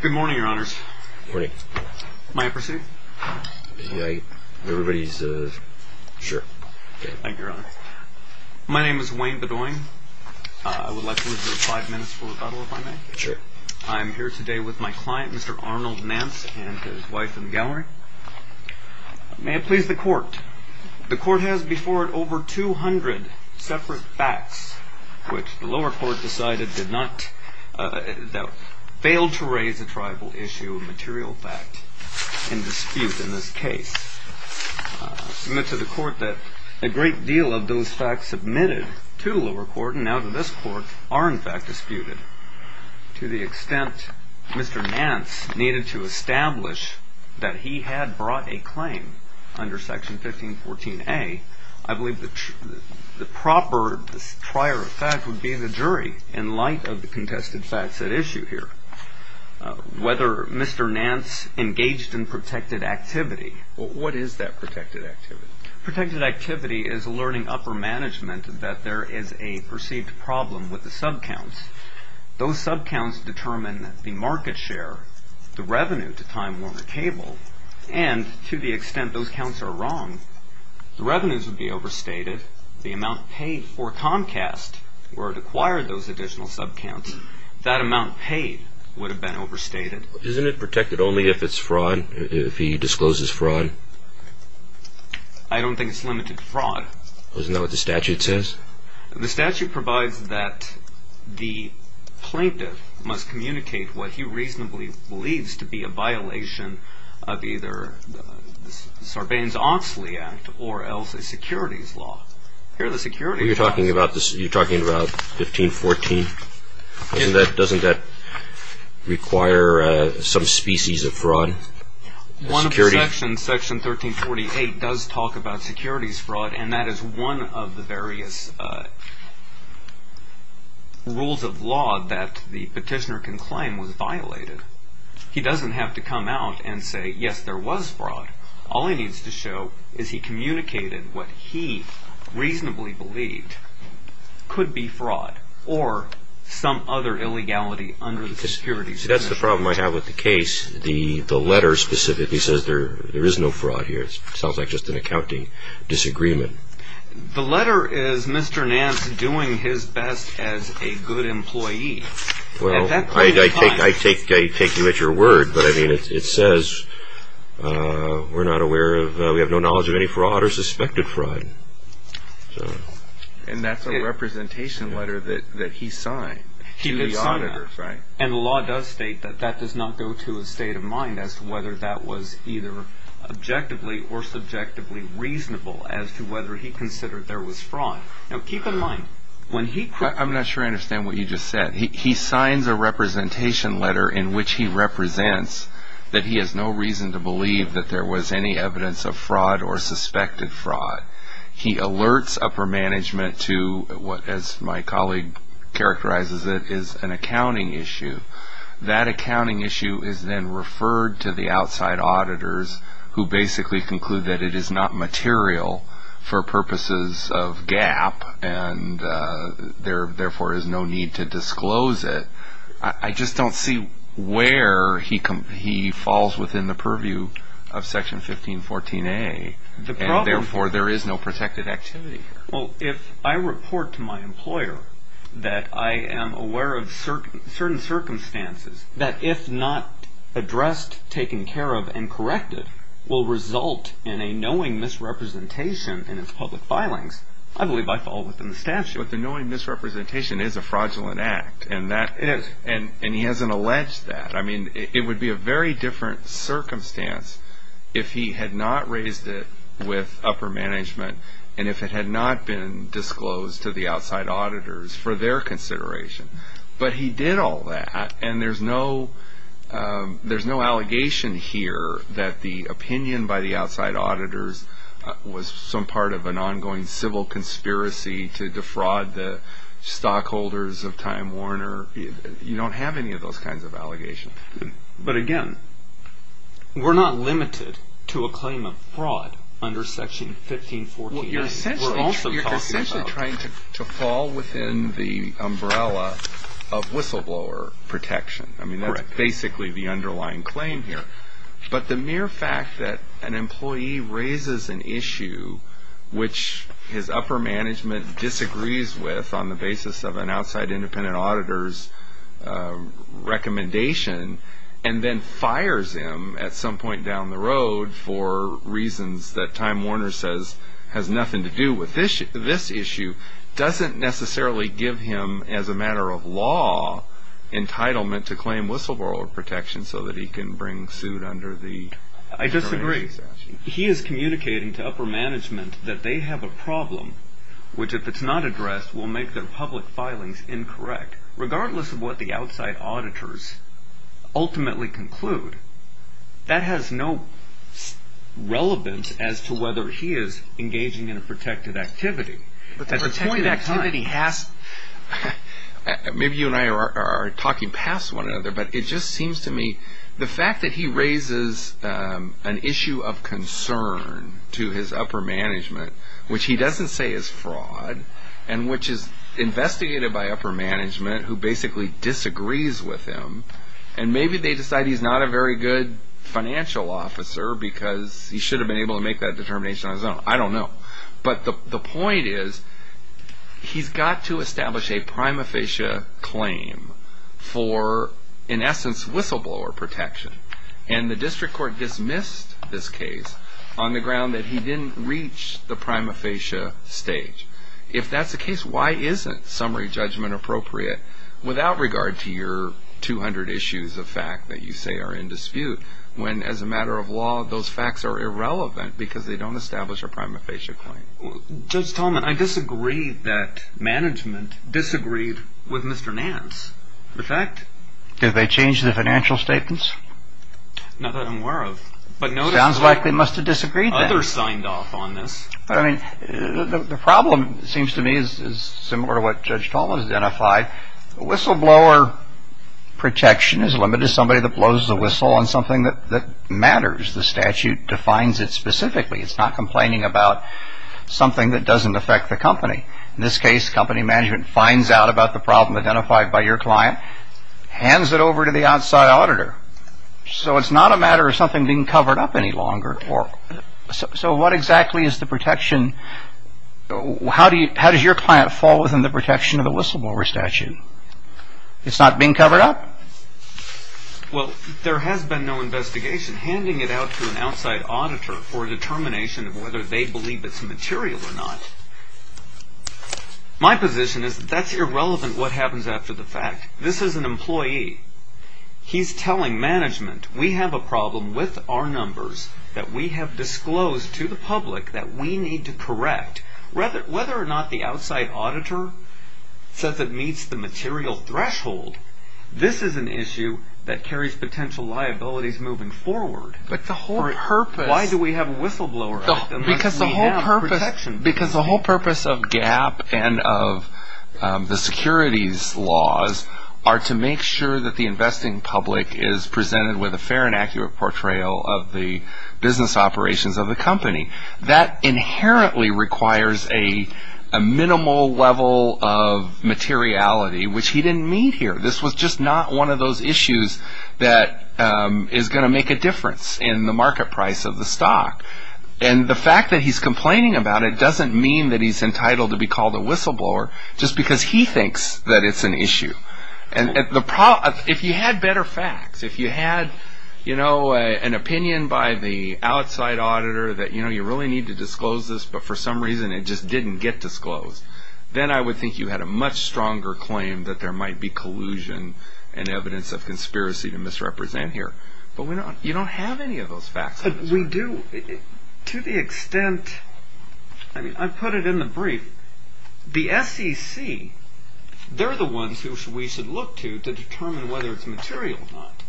Good morning, Your Honors. Good morning. May I proceed? Yeah, everybody's, uh, sure. Thank you, Your Honor. My name is Wayne Bedoin. I would like to reserve five minutes for rebuttal, if I may. Sure. I'm here today with my client, Mr. Arnold Nance, and his wife in the gallery. May it please the Court, the Court has before it over 200 separate facts, which the lower court decided did not, uh, failed to raise a tribal issue of material fact in dispute in this case. I submit to the Court that a great deal of those facts submitted to the lower court and now to this Court are, in fact, disputed. To the extent Mr. Nance needed to establish that he had brought a claim under Section 1514A, I believe the proper prior fact would be the jury in light of the contested facts at issue here. Whether Mr. Nance engaged in protected activity, what is that protected activity? Protected activity is a learning upper management that there is a perceived problem with the sub counts. Those sub counts determine the market share, the revenue to Time Warner Cable, and to the extent those counts are wrong, the revenues would be overstated, the amount paid for Comcast where it acquired those additional sub counts, that amount paid would have been overstated. Isn't it protected only if it's fraud, if he discloses fraud? I don't think it's limited to fraud. Isn't that what the statute says? The statute provides that the plaintiff must communicate what he reasonably believes to be a violation of either Sarbanes-Oxley Act or else a securities law. You're talking about 1514? Doesn't that require some species of fraud? Section 1348 does talk about securities fraud and that is one of the various rules of law that the petitioner can claim was violated. He doesn't have to come out and say, yes, there was fraud. All he needs to show is he communicated what he reasonably believed could be fraud or some other illegality under the securities. That's the problem I have with the case. The letter specifically says there is no fraud here. It sounds like just an accounting disagreement. The letter is Mr. Nance doing his best as a good employee. I take you at your word, but it says we have no knowledge of any fraud or suspected fraud. And that's a representation letter that he signed to the auditor. And the law does state that that does not go to a state of mind as to whether that was either objectively or subjectively reasonable as to whether he considered there was fraud. I'm not sure I understand what you just said. He signs a representation letter in which he represents that he has no reason to believe that there was any evidence of fraud or suspected fraud. He alerts upper management to what, as my colleague characterizes it, is an accounting issue. That accounting issue is then referred to the outside auditors who basically conclude that it is not material for purposes of gap and therefore there is no need to disclose it. I just don't see where he falls within the purview of Section 1514A, and therefore there is no protected activity here. Well, if I report to my employer that I am aware of certain circumstances that if not addressed, taken care of, and corrected, will result in a knowing misrepresentation in its public filings, I believe I fall within the statute. But the knowing misrepresentation is a fraudulent act, and he hasn't alleged that. It would be a very different circumstance if he had not raised it with upper management and if it had not been disclosed to the outside auditors for their consideration. But he did all that, and there's no allegation here that the opinion by the outside auditors was some part of an ongoing civil conspiracy to defraud the stockholders of Time Warner. You don't have any of those kinds of allegations. But again, we're not limited to a claim of fraud under Section 1514A. You're essentially trying to fall within the umbrella of whistleblower protection. I mean, that's basically the underlying claim here. But the mere fact that an employee raises an issue which his upper management disagrees with on the basis of an outside independent auditor's recommendation and then fires him at some point down the road for reasons that Time Warner says has nothing to do with this issue, doesn't necessarily give him, as a matter of law, entitlement to claim whistleblower protection so that he can bring suit under the generation statute. I disagree. He is communicating to upper management that they have a problem which, if it's not addressed, will make their public filings incorrect. Regardless of what the outside auditors ultimately conclude, that has no relevance as to whether he is engaging in a protected activity. Maybe you and I are talking past one another, but it just seems to me the fact that he raises an issue of concern to his upper management, which he doesn't say is fraud, and which is investigated by upper management who basically disagrees with him, and maybe they decide he's not a very good financial officer because he should have been able to make that determination on his own. I don't know. But the point is he's got to establish a prima facie claim for, in essence, whistleblower protection. And the district court dismissed this case on the ground that he didn't reach the prima facie stage. If that's the case, why isn't summary judgment appropriate without regard to your 200 issues of fact that you say are in dispute when, as a matter of law, those facts are irrelevant because they don't establish a prima facie claim? Judge Talman, I disagree that management disagreed with Mr. Nance. The fact? Did they change the financial statements? Not that I'm aware of. Sounds like they must have disagreed then. Others signed off on this. I mean, the problem seems to me is similar to what Judge Talman has identified. Whistleblower protection is limited to somebody that blows the whistle on something that matters. The statute defines it specifically. It's not complaining about something that doesn't affect the company. In this case, company management finds out about the problem identified by your client, hands it over to the outside auditor. So it's not a matter of something being covered up any longer. So what exactly is the protection? How does your client fall within the protection of the whistleblower statute? It's not being covered up? Well, there has been no investigation. Handing it out to an outside auditor for a determination of whether they believe it's material or not, my position is that that's irrelevant what happens after the fact. This is an employee. He's telling management, we have a problem with our numbers that we have disclosed to the public that we need to correct. Whether or not the outside auditor says it meets the material threshold, this is an issue that carries potential liabilities moving forward. But the whole purpose... Why do we have a whistleblower? Because the whole purpose of GAAP and of the securities laws are to make sure that the investing public is presented with a fair and accurate portrayal of the business operations of the company. That inherently requires a minimal level of materiality, which he didn't mean here. This was just not one of those issues that is going to make a difference in the market price of the stock. And the fact that he's complaining about it doesn't mean that he's entitled to be called a whistleblower just because he thinks that it's an issue. If you had better facts, if you had an opinion by the outside auditor that you really need to disclose this, but for some reason it just didn't get disclosed, then I would think you had a much stronger claim that there might be collusion and evidence of conspiracy to misrepresent here. But you don't have any of those facts. But we do. To the extent... I mean, I put it in the brief. The SEC, they're the ones who we should look to to determine whether it's material or not.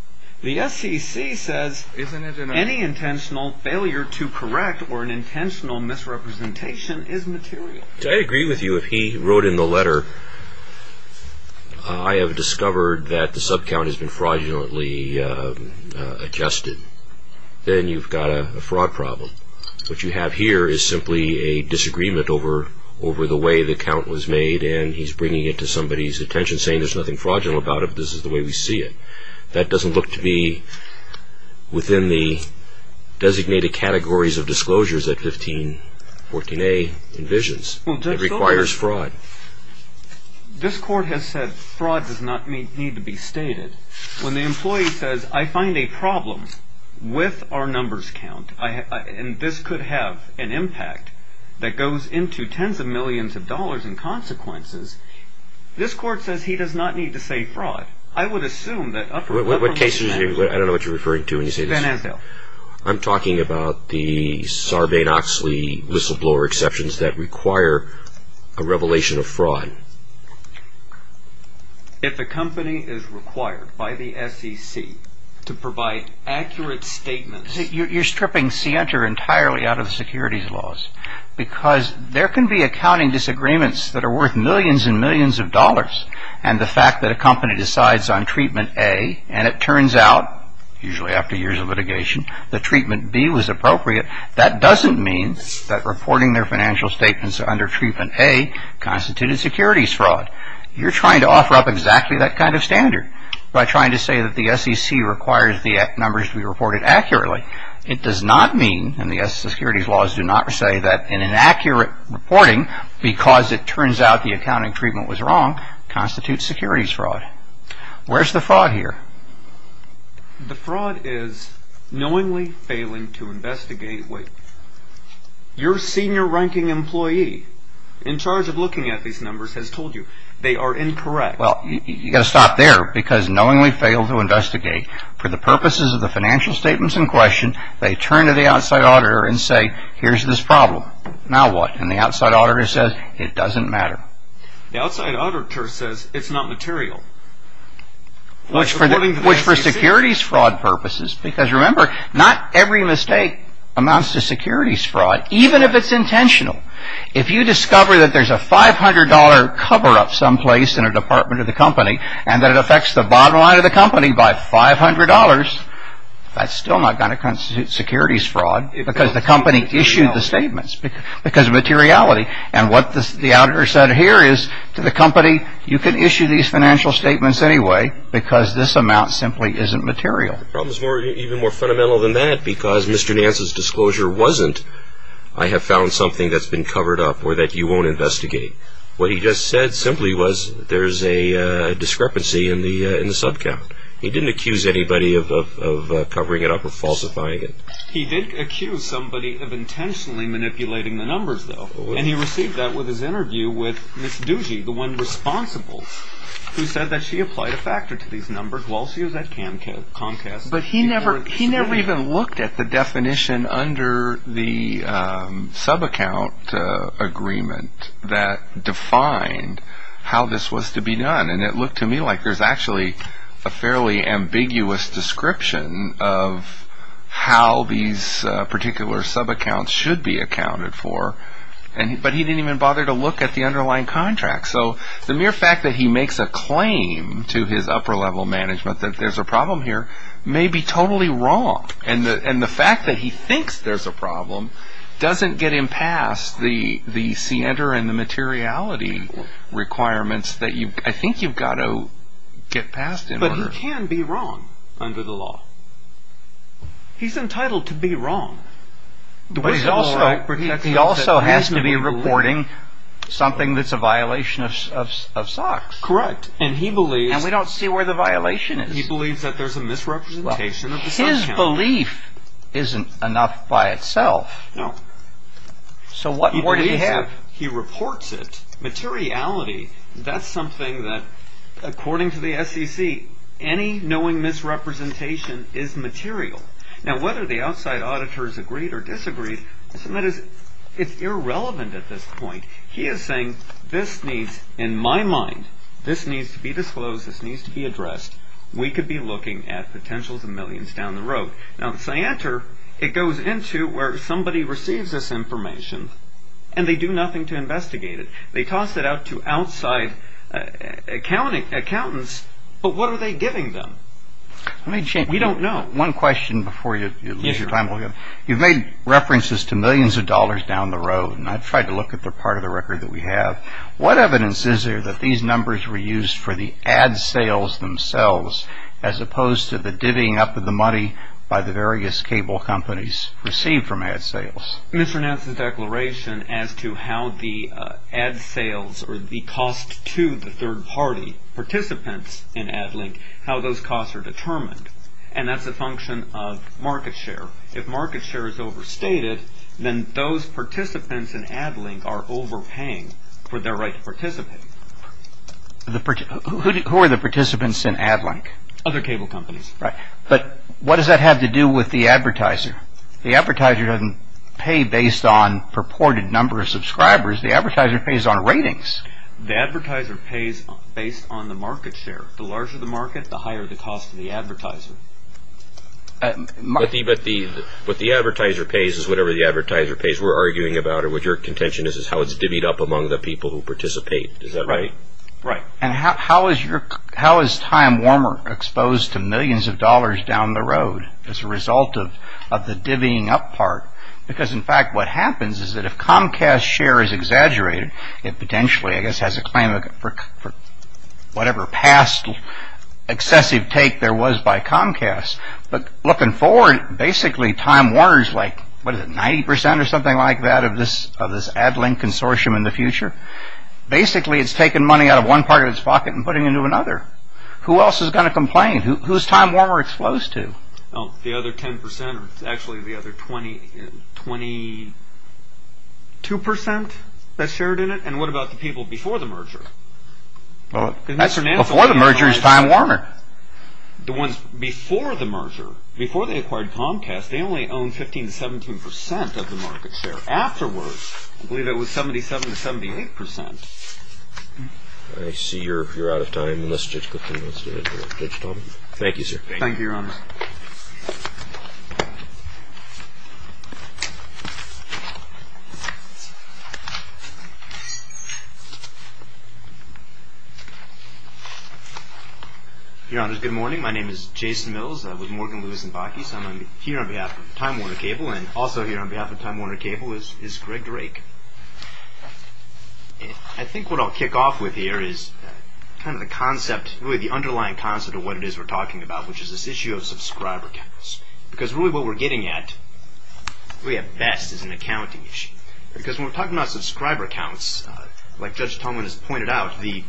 The SEC says any intentional failure to correct or an intentional misrepresentation is material. I agree with you. If he wrote in the letter, I have discovered that the subcount has been fraudulently adjusted. Then you've got a fraud problem. What you have here is simply a disagreement over the way the count was made, and he's bringing it to somebody's attention, saying there's nothing fraudulent about it, this is the way we see it. That doesn't look to be within the designated categories of disclosures that 1514A envisions. It requires fraud. This Court has said fraud does not need to be stated. When the employee says, I find a problem with our numbers count, and this could have an impact that goes into tens of millions of dollars in consequences, this Court says he does not need to say fraud. I don't know what you're referring to when you say this. Van Asdale. I'm talking about the Sarbanes-Oxley whistleblower exceptions that require a revelation of fraud. If a company is required by the SEC to provide accurate statements... You're stripping Sienter entirely out of the securities laws, because there can be accounting disagreements that are worth millions and millions of dollars, and the fact that a company decides on treatment A, and it turns out, usually after years of litigation, that treatment B was appropriate, that doesn't mean that reporting their financial statements under treatment A constituted securities fraud. You're trying to offer up exactly that kind of standard by trying to say that the SEC requires the numbers to be reported accurately. It does not mean, and the securities laws do not say that in an accurate reporting, because it turns out the accounting treatment was wrong, constitutes securities fraud. Where's the fraud here? The fraud is knowingly failing to investigate. Wait. Your senior ranking employee in charge of looking at these numbers has told you they are incorrect. Well, you've got to stop there, because knowingly fail to investigate. For the purposes of the financial statements in question, they turn to the outside auditor and say, here's this problem. Now what? And the outside auditor says, it doesn't matter. The outside auditor says it's not material. Which for securities fraud purposes, because remember, not every mistake amounts to securities fraud, even if it's intentional. If you discover that there's a $500 cover-up someplace in a department of the company, and that it affects the bottom line of the company by $500, that's still not going to constitute securities fraud, because the company issued the statements, because of materiality. And what the auditor said here is, to the company, you can issue these financial statements anyway, because this amount simply isn't material. The problem is even more fundamental than that, because Mr. Nance's disclosure wasn't, I have found something that's been covered up or that you won't investigate. What he just said simply was, there's a discrepancy in the subcount. He didn't accuse anybody of covering it up or falsifying it. He did accuse somebody of intentionally manipulating the numbers, though. And he received that with his interview with Ms. Ducey, the one responsible, who said that she applied a factor to these numbers while she was at Comcast. But he never even looked at the definition under the subaccount agreement that defined how this was to be done. And it looked to me like there's actually a fairly ambiguous description of how these particular subaccounts should be accounted for. But he didn't even bother to look at the underlying contract. So the mere fact that he makes a claim to his upper-level management that there's a problem here may be totally wrong. And the fact that he thinks there's a problem doesn't get him past the scienter and the materiality requirements that I think you've got to get past in order... But he can be wrong under the law. He's entitled to be wrong. But he also has to be reporting something that's a violation of SOX. Correct. And he believes... And we don't see where the violation is. He believes that there's a misrepresentation of the subaccount. Well, his belief isn't enough by itself. No. So what more do you have? He reports it. Materiality, that's something that, according to the SEC, any knowing misrepresentation is material. Now, whether the outside auditors agreed or disagreed, it's irrelevant at this point. He is saying, in my mind, this needs to be disclosed, this needs to be addressed. We could be looking at potentials of millions down the road. Now, the scienter, it goes into where somebody receives this information and they do nothing to investigate it. They toss it out to outside accountants, but what are they giving them? We don't know. One question before you lose your time. You've made references to millions of dollars down the road, and I've tried to look at the part of the record that we have. What evidence is there that these numbers were used for the ad sales themselves, as opposed to the divvying up of the money by the various cable companies received from ad sales? Mr. Nance's declaration as to how the ad sales or the cost to the third-party participants in AdLink, how those costs are determined, and that's a function of market share. If market share is overstated, then those participants in AdLink are overpaying for their right to participate. Who are the participants in AdLink? Other cable companies. But what does that have to do with the advertiser? The advertiser doesn't pay based on purported number of subscribers. The advertiser pays on ratings. The advertiser pays based on the market share. The larger the market, the higher the cost to the advertiser. But what the advertiser pays is whatever the advertiser pays. We're arguing about it. What your contention is is how it's divvied up among the people who participate. Is that right? Right. And how is Time Warmer exposed to millions of dollars down the road as a result of the divvying up part? Because, in fact, what happens is that if Comcast's share is exaggerated, it potentially, I guess, has a claim for whatever past excessive take there was by Comcast. But looking forward, basically, Time Warmer is like, what is it, 90% or something like that of this AdLink consortium in the future? Basically, it's taking money out of one part of its pocket and putting it into another. Who else is going to complain? Who is Time Warmer exposed to? The other 10% or actually the other 22% that shared in it? And what about the people before the merger? Before the merger is Time Warmer. The ones before the merger, before they acquired Comcast, they only owned 15% to 17% of the market share. Afterwards, I believe it was 77% to 78%. I see you're out of time. Let's just go through this. Thank you, sir. Thank you, Your Honor. Your Honor, good morning. My name is Jason Mills. I'm with Morgan, Lewis & Bakke. I'm here on behalf of Time Warmer Cable. And also here on behalf of Time Warmer Cable is Greg Drake. I think what I'll kick off with here is kind of the concept, really the underlying concept of what it is we're talking about, which is this issue of subscriber counts. Because really what we're getting at, really at best, is an accounting issue. Because when we're talking about subscriber counts, like Judge Tomlin has pointed out, the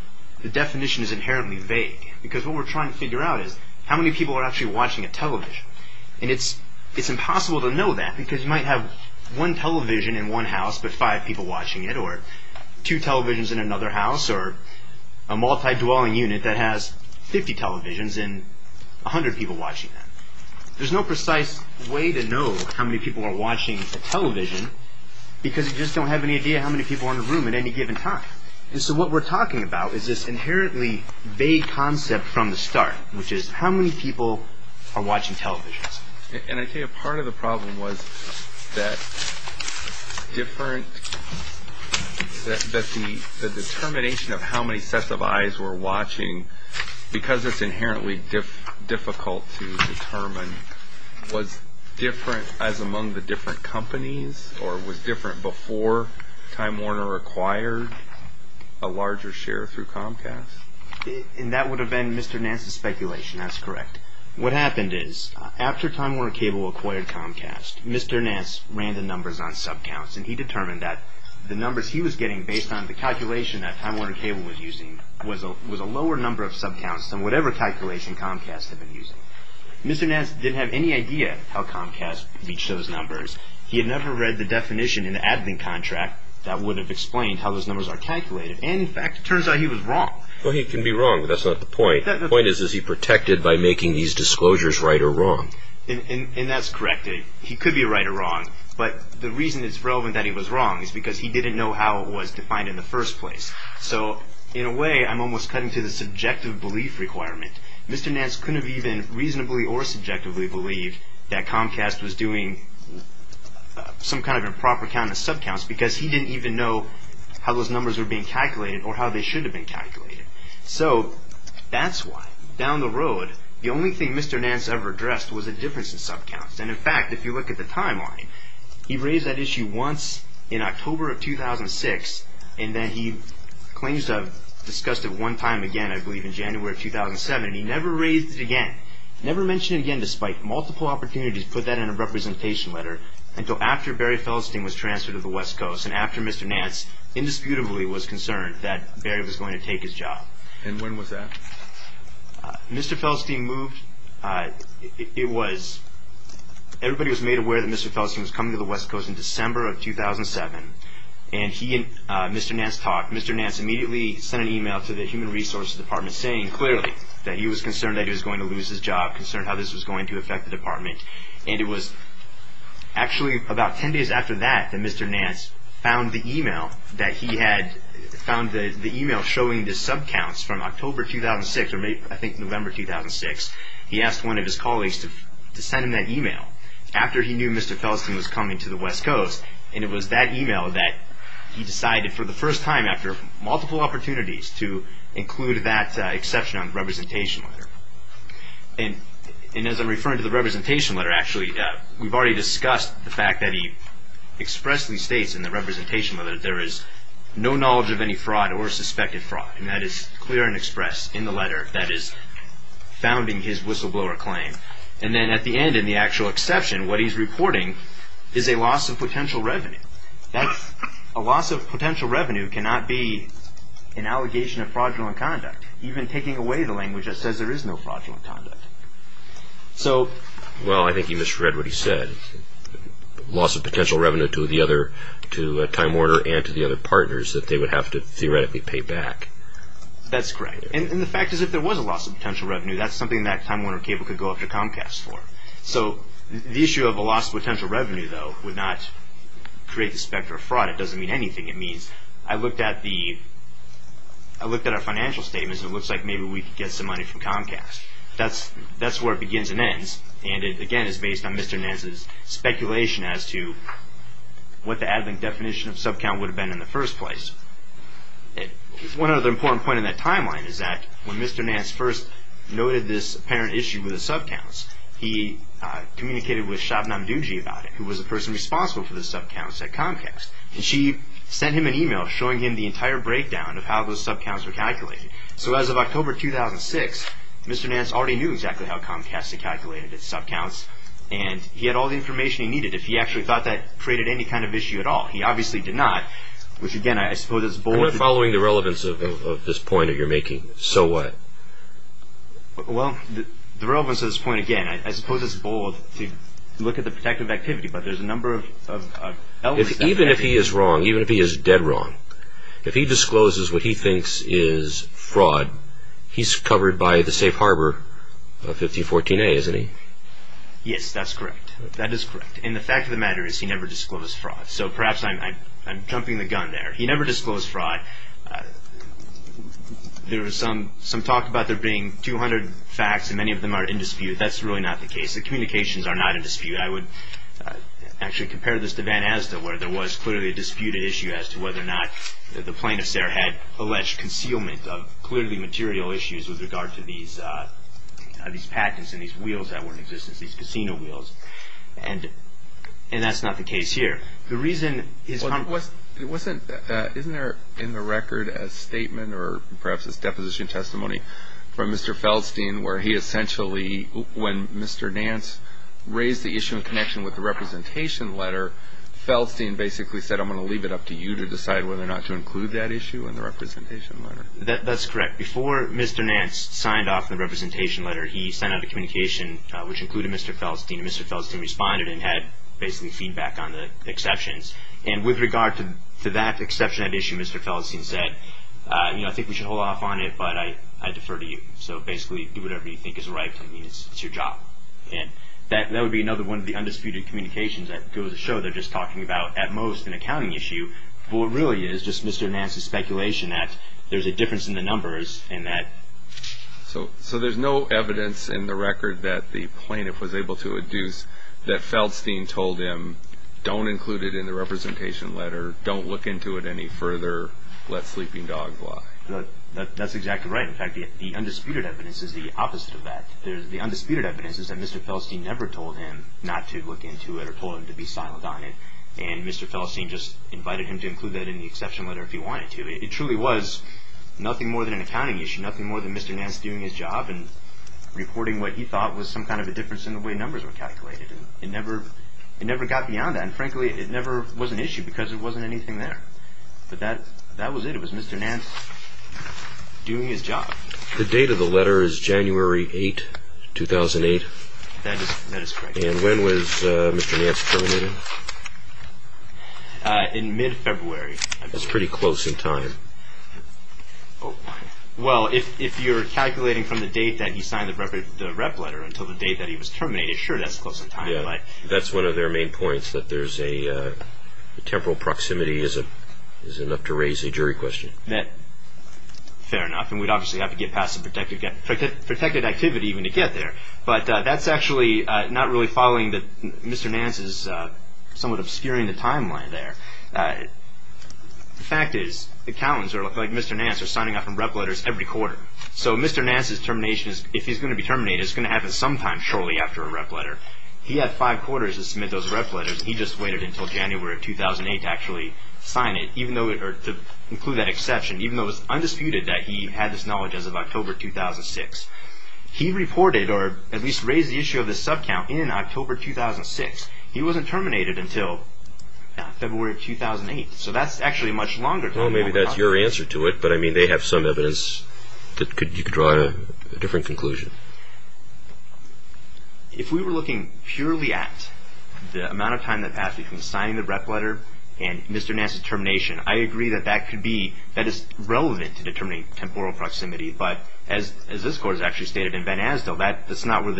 definition is inherently vague. Because what we're trying to figure out is how many people are actually watching a television. And it's impossible to know that because you might have one television in one house but five people watching it or two televisions in another house or a multi-dwelling unit that has 50 televisions and 100 people watching them. There's no precise way to know how many people are watching a television because you just don't have any idea how many people are in a room at any given time. And so what we're talking about is this inherently vague concept from the start, which is how many people are watching televisions. And I tell you, part of the problem was that the determination of how many sets of eyes were watching, because it's inherently difficult to determine, was different as among the different companies or was different before Time Warner acquired a larger share through Comcast? And that would have been Mr. Nance's speculation. That's correct. What happened is after Time Warner Cable acquired Comcast, Mr. Nance ran the numbers on sub-counts and he determined that the numbers he was getting based on the calculation that Time Warner Cable was using was a lower number of sub-counts than whatever calculation Comcast had been using. Mr. Nance didn't have any idea how Comcast reached those numbers. He had never read the definition in the admin contract that would have explained how those numbers are calculated. And, in fact, it turns out he was wrong. Well, he can be wrong, but that's not the point. The point is, is he protected by making these disclosures right or wrong? And that's correct. He could be right or wrong. But the reason it's relevant that he was wrong is because he didn't know how it was defined in the first place. So, in a way, I'm almost cutting to the subjective belief requirement. Mr. Nance couldn't have even reasonably or subjectively believed that Comcast was doing some kind of improper count of sub-counts because he didn't even know how those numbers were being calculated or how they should have been calculated. So, that's why, down the road, the only thing Mr. Nance ever addressed was a difference in sub-counts. And, in fact, if you look at the timeline, he raised that issue once in October of 2006 and then he claims to have discussed it one time again, I believe, in January of 2007. He never raised it again, never mentioned it again, despite multiple opportunities to put that in a representation letter, until after Barry Feldstein was transferred to the West Coast and after Mr. Nance indisputably was concerned that Barry was going to take his job. And when was that? Mr. Feldstein moved, it was, everybody was made aware that Mr. Feldstein was coming to the West Coast in December of 2007. And he and Mr. Nance talked. Mr. Nance immediately sent an email to the Human Resources Department saying, clearly, that he was concerned that he was going to lose his job, concerned how this was going to affect the department. And it was actually about ten days after that that Mr. Nance found the email that he had, found the email showing the sub-counts from October 2006 or maybe, I think, November 2006. He asked one of his colleagues to send him that email after he knew Mr. Feldstein was coming to the West Coast. And it was that email that he decided for the first time, after multiple opportunities, to include that exception on the representation letter. And as I'm referring to the representation letter, actually, we've already discussed the fact that he expressly states in the representation letter that there is no knowledge of any fraud or suspected fraud. And that is clear and expressed in the letter that is founding his whistleblower claim. And then at the end, in the actual exception, what he's reporting is a loss of potential revenue. A loss of potential revenue cannot be an allegation of fraudulent conduct. Even taking away the language that says there is no fraudulent conduct. So, well, I think you misread what he said. Loss of potential revenue to the other, to Time Warner and to the other partners that they would have to theoretically pay back. That's correct. And the fact is if there was a loss of potential revenue, that's something that Time Warner Cable could go after Comcast for. So the issue of a loss of potential revenue, though, would not create the specter of fraud. It doesn't mean anything. It means I looked at the, I looked at our financial statements and it looks like maybe we could get some money from Comcast. That's where it begins and ends. And it, again, is based on Mr. Nance's speculation as to what the ad-link definition of sub-count would have been in the first place. One other important point in that timeline is that when Mr. Nance first noted this apparent issue with the sub-counts, he communicated with Shabnam Dungy about it, who was the person responsible for the sub-counts at Comcast. And she sent him an email showing him the entire breakdown of how those sub-counts were calculated. So as of October 2006, Mr. Nance already knew exactly how Comcast had calculated its sub-counts and he had all the information he needed. If he actually thought that created any kind of issue at all, he obviously did not, which, again, I suppose is bold. I'm not following the relevance of this point that you're making. So what? Well, the relevance of this point, again, I suppose is bold to look at the protective activity, but there's a number of elements. Even if he is wrong, even if he is dead wrong, if he discloses what he thinks is fraud, he's covered by the safe harbor of 1514A, isn't he? Yes, that's correct. That is correct. And the fact of the matter is he never disclosed fraud. So perhaps I'm jumping the gun there. He never disclosed fraud. There was some talk about there being 200 facts and many of them are in dispute. That's really not the case. The communications are not in dispute. I would actually compare this to Van Asda where there was clearly a disputed issue as to whether or not the plaintiffs there had alleged concealment of clearly material issues with regard to these patents and these wheels that weren't in existence, these casino wheels. And that's not the case here. The reason his comment was... It wasn't... Isn't there in the record a statement or perhaps this deposition testimony from Mr. Feldstein where he essentially when Mr. Nance raised the issue in connection with the representation letter, Feldstein basically said, I'm going to leave it up to you to decide whether or not to include that issue in the representation letter. That's correct. Before Mr. Nance signed off the representation letter, he sent out a communication which included Mr. Feldstein. Mr. Feldstein responded and had basically feedback on the exceptions. And with regard to that exception, that issue, Mr. Feldstein said, I think we should hold off on it, but I defer to you. So basically do whatever you think is right for me. It's your job. And that would be another one of the undisputed communications that goes to show they're just talking about at most an accounting issue. But what really is just Mr. Nance's speculation that there's a difference in the numbers and that... So there's no evidence in the record that the plaintiff was able to induce that Feldstein told him, don't include it in the representation letter, don't look into it any further, let sleeping dogs lie. That's exactly right. In fact, the undisputed evidence is the opposite of that. The undisputed evidence is that Mr. Feldstein never told him not to look into it or told him to be silent on it. And Mr. Feldstein just invited him to include that in the exception letter if he wanted to. It truly was nothing more than an accounting issue, nothing more than Mr. Nance doing his job and reporting what he thought was some kind of a difference in the way numbers were calculated. It never got beyond that. And frankly, it never was an issue because there wasn't anything there. But that was it. It was Mr. Nance doing his job. The date of the letter is January 8, 2008. That is correct. And when was Mr. Nance terminated? In mid-February. That's pretty close in time. Well, if you're calculating from the date that he signed the rep letter until the date that he was terminated, sure, that's close in time. That's one of their main points, that there's a temporal proximity is enough to raise a jury question. Fair enough. And we'd obviously have to get past the protected activity even to get there. But that's actually not really following Mr. Nance's somewhat obscuring the timeline there. The fact is, accountants like Mr. Nance are signing off on rep letters every quarter. So Mr. Nance's termination, if he's going to be terminated, is going to happen sometime shortly after a rep letter. He had five quarters to submit those rep letters. He just waited until January of 2008 to actually sign it, to include that exception, even though it's undisputed that he had this knowledge as of October 2006. He reported, or at least raised the issue of the subcount in October 2006. He wasn't terminated until February of 2008. So that's actually much longer. Well, maybe that's your answer to it. But, I mean, they have some evidence that you could draw a different conclusion. If we were looking purely at the amount of time that passed between signing the rep letter and Mr. Nance's termination, I agree that that is relevant to determining temporal proximity. But as this Court has actually stated in Van Asdel, that's not where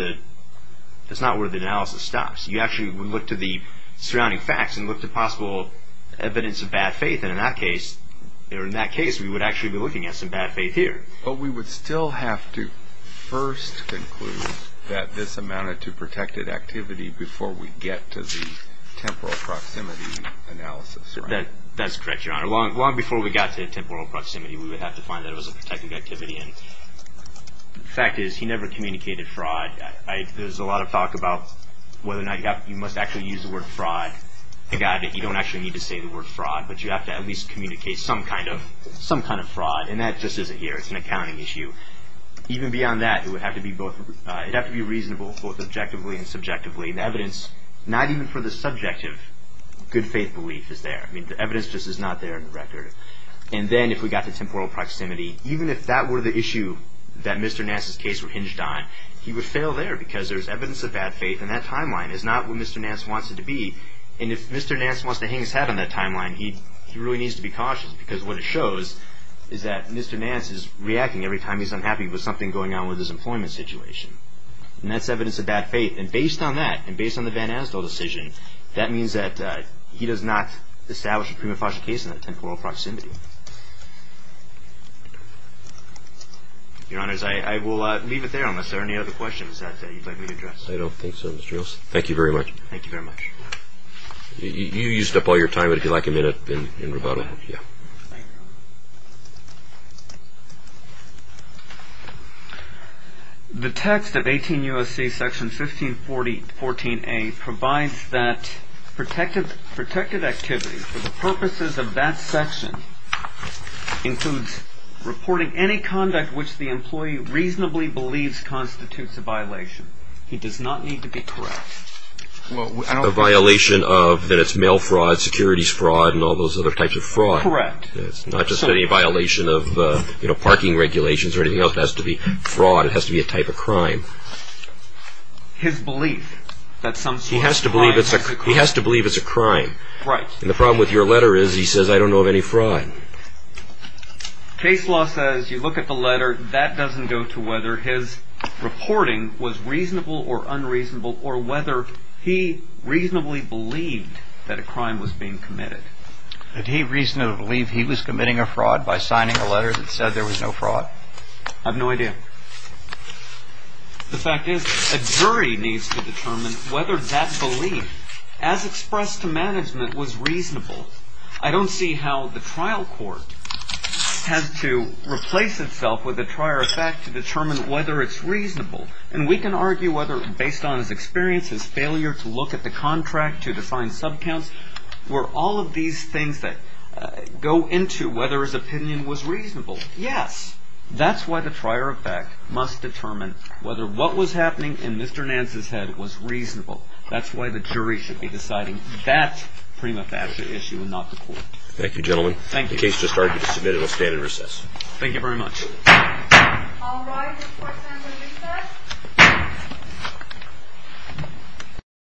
the analysis stops. You actually would look to the surrounding facts and look to possible evidence of bad faith. And in that case, we would actually be looking at some bad faith here. But we would still have to first conclude that this amounted to protected activity before we get to the temporal proximity analysis, right? That's correct, Your Honor. Long before we got to temporal proximity, we would have to find that it was a protected activity. And the fact is, he never communicated fraud. There's a lot of talk about whether or not you must actually use the word fraud. I got it. You don't actually need to say the word fraud, but you have to at least communicate some kind of fraud. And that just isn't here. It's an accounting issue. Even beyond that, it would have to be reasonable both objectively and subjectively. The evidence, not even for the subjective good faith belief, is there. I mean, the evidence just is not there in the record. And then if we got to temporal proximity, even if that were the issue that Mr. Nance's case were hinged on, he would fail there because there's evidence of bad faith. And that timeline is not what Mr. Nance wants it to be. And if Mr. Nance wants to hang his head on that timeline, he really needs to be cautious. Because what it shows is that Mr. Nance is reacting every time he's unhappy with something going on with his employment situation. And that's evidence of bad faith. And based on that, and based on the Van Asdel decision, that means that he does not establish a prima facie case in that temporal proximity. Your Honors, I will leave it there unless there are any other questions that you'd like me to address. I don't think so. Thank you very much. Thank you very much. You used up all your time, but if you'd like a minute in rebuttal. Yeah. The text of 18 U.S.C. section 1514A provides that protected activity for the purposes of that section includes reporting any conduct which the employee reasonably believes constitutes a violation. He does not need to be correct. A violation of, that it's mail fraud, securities fraud, and all those other types of fraud. Correct. It's not just any violation of, you know, parking regulations or anything else. It has to be fraud. It has to be a type of crime. His belief that some sort of crime has occurred. He has to believe it's a crime. Right. And the problem with your letter is he says, I don't know of any fraud. Case law says, you look at the letter, that doesn't go to whether his reporting was reasonable or unreasonable or whether he reasonably believed that a crime was being committed. Did he reasonably believe he was committing a fraud by signing a letter that said there was no fraud? I have no idea. The fact is, a jury needs to determine whether that belief, as expressed to management, was reasonable. I don't see how the trial court has to replace itself with a trier of fact to determine whether it's reasonable. And we can argue whether, based on his experience, his failure to look at the contract, to define sub counts, were all of these things that go into whether his opinion was reasonable. Yes. That's why the trier of fact must determine whether what was happening in Mr. Nance's head was reasonable. That's why the jury should be deciding that prima facie issue and not the court. Thank you, gentlemen. Thank you. The case just started to be submitted. It will stand in recess. Thank you very much. All rise for assembly recess.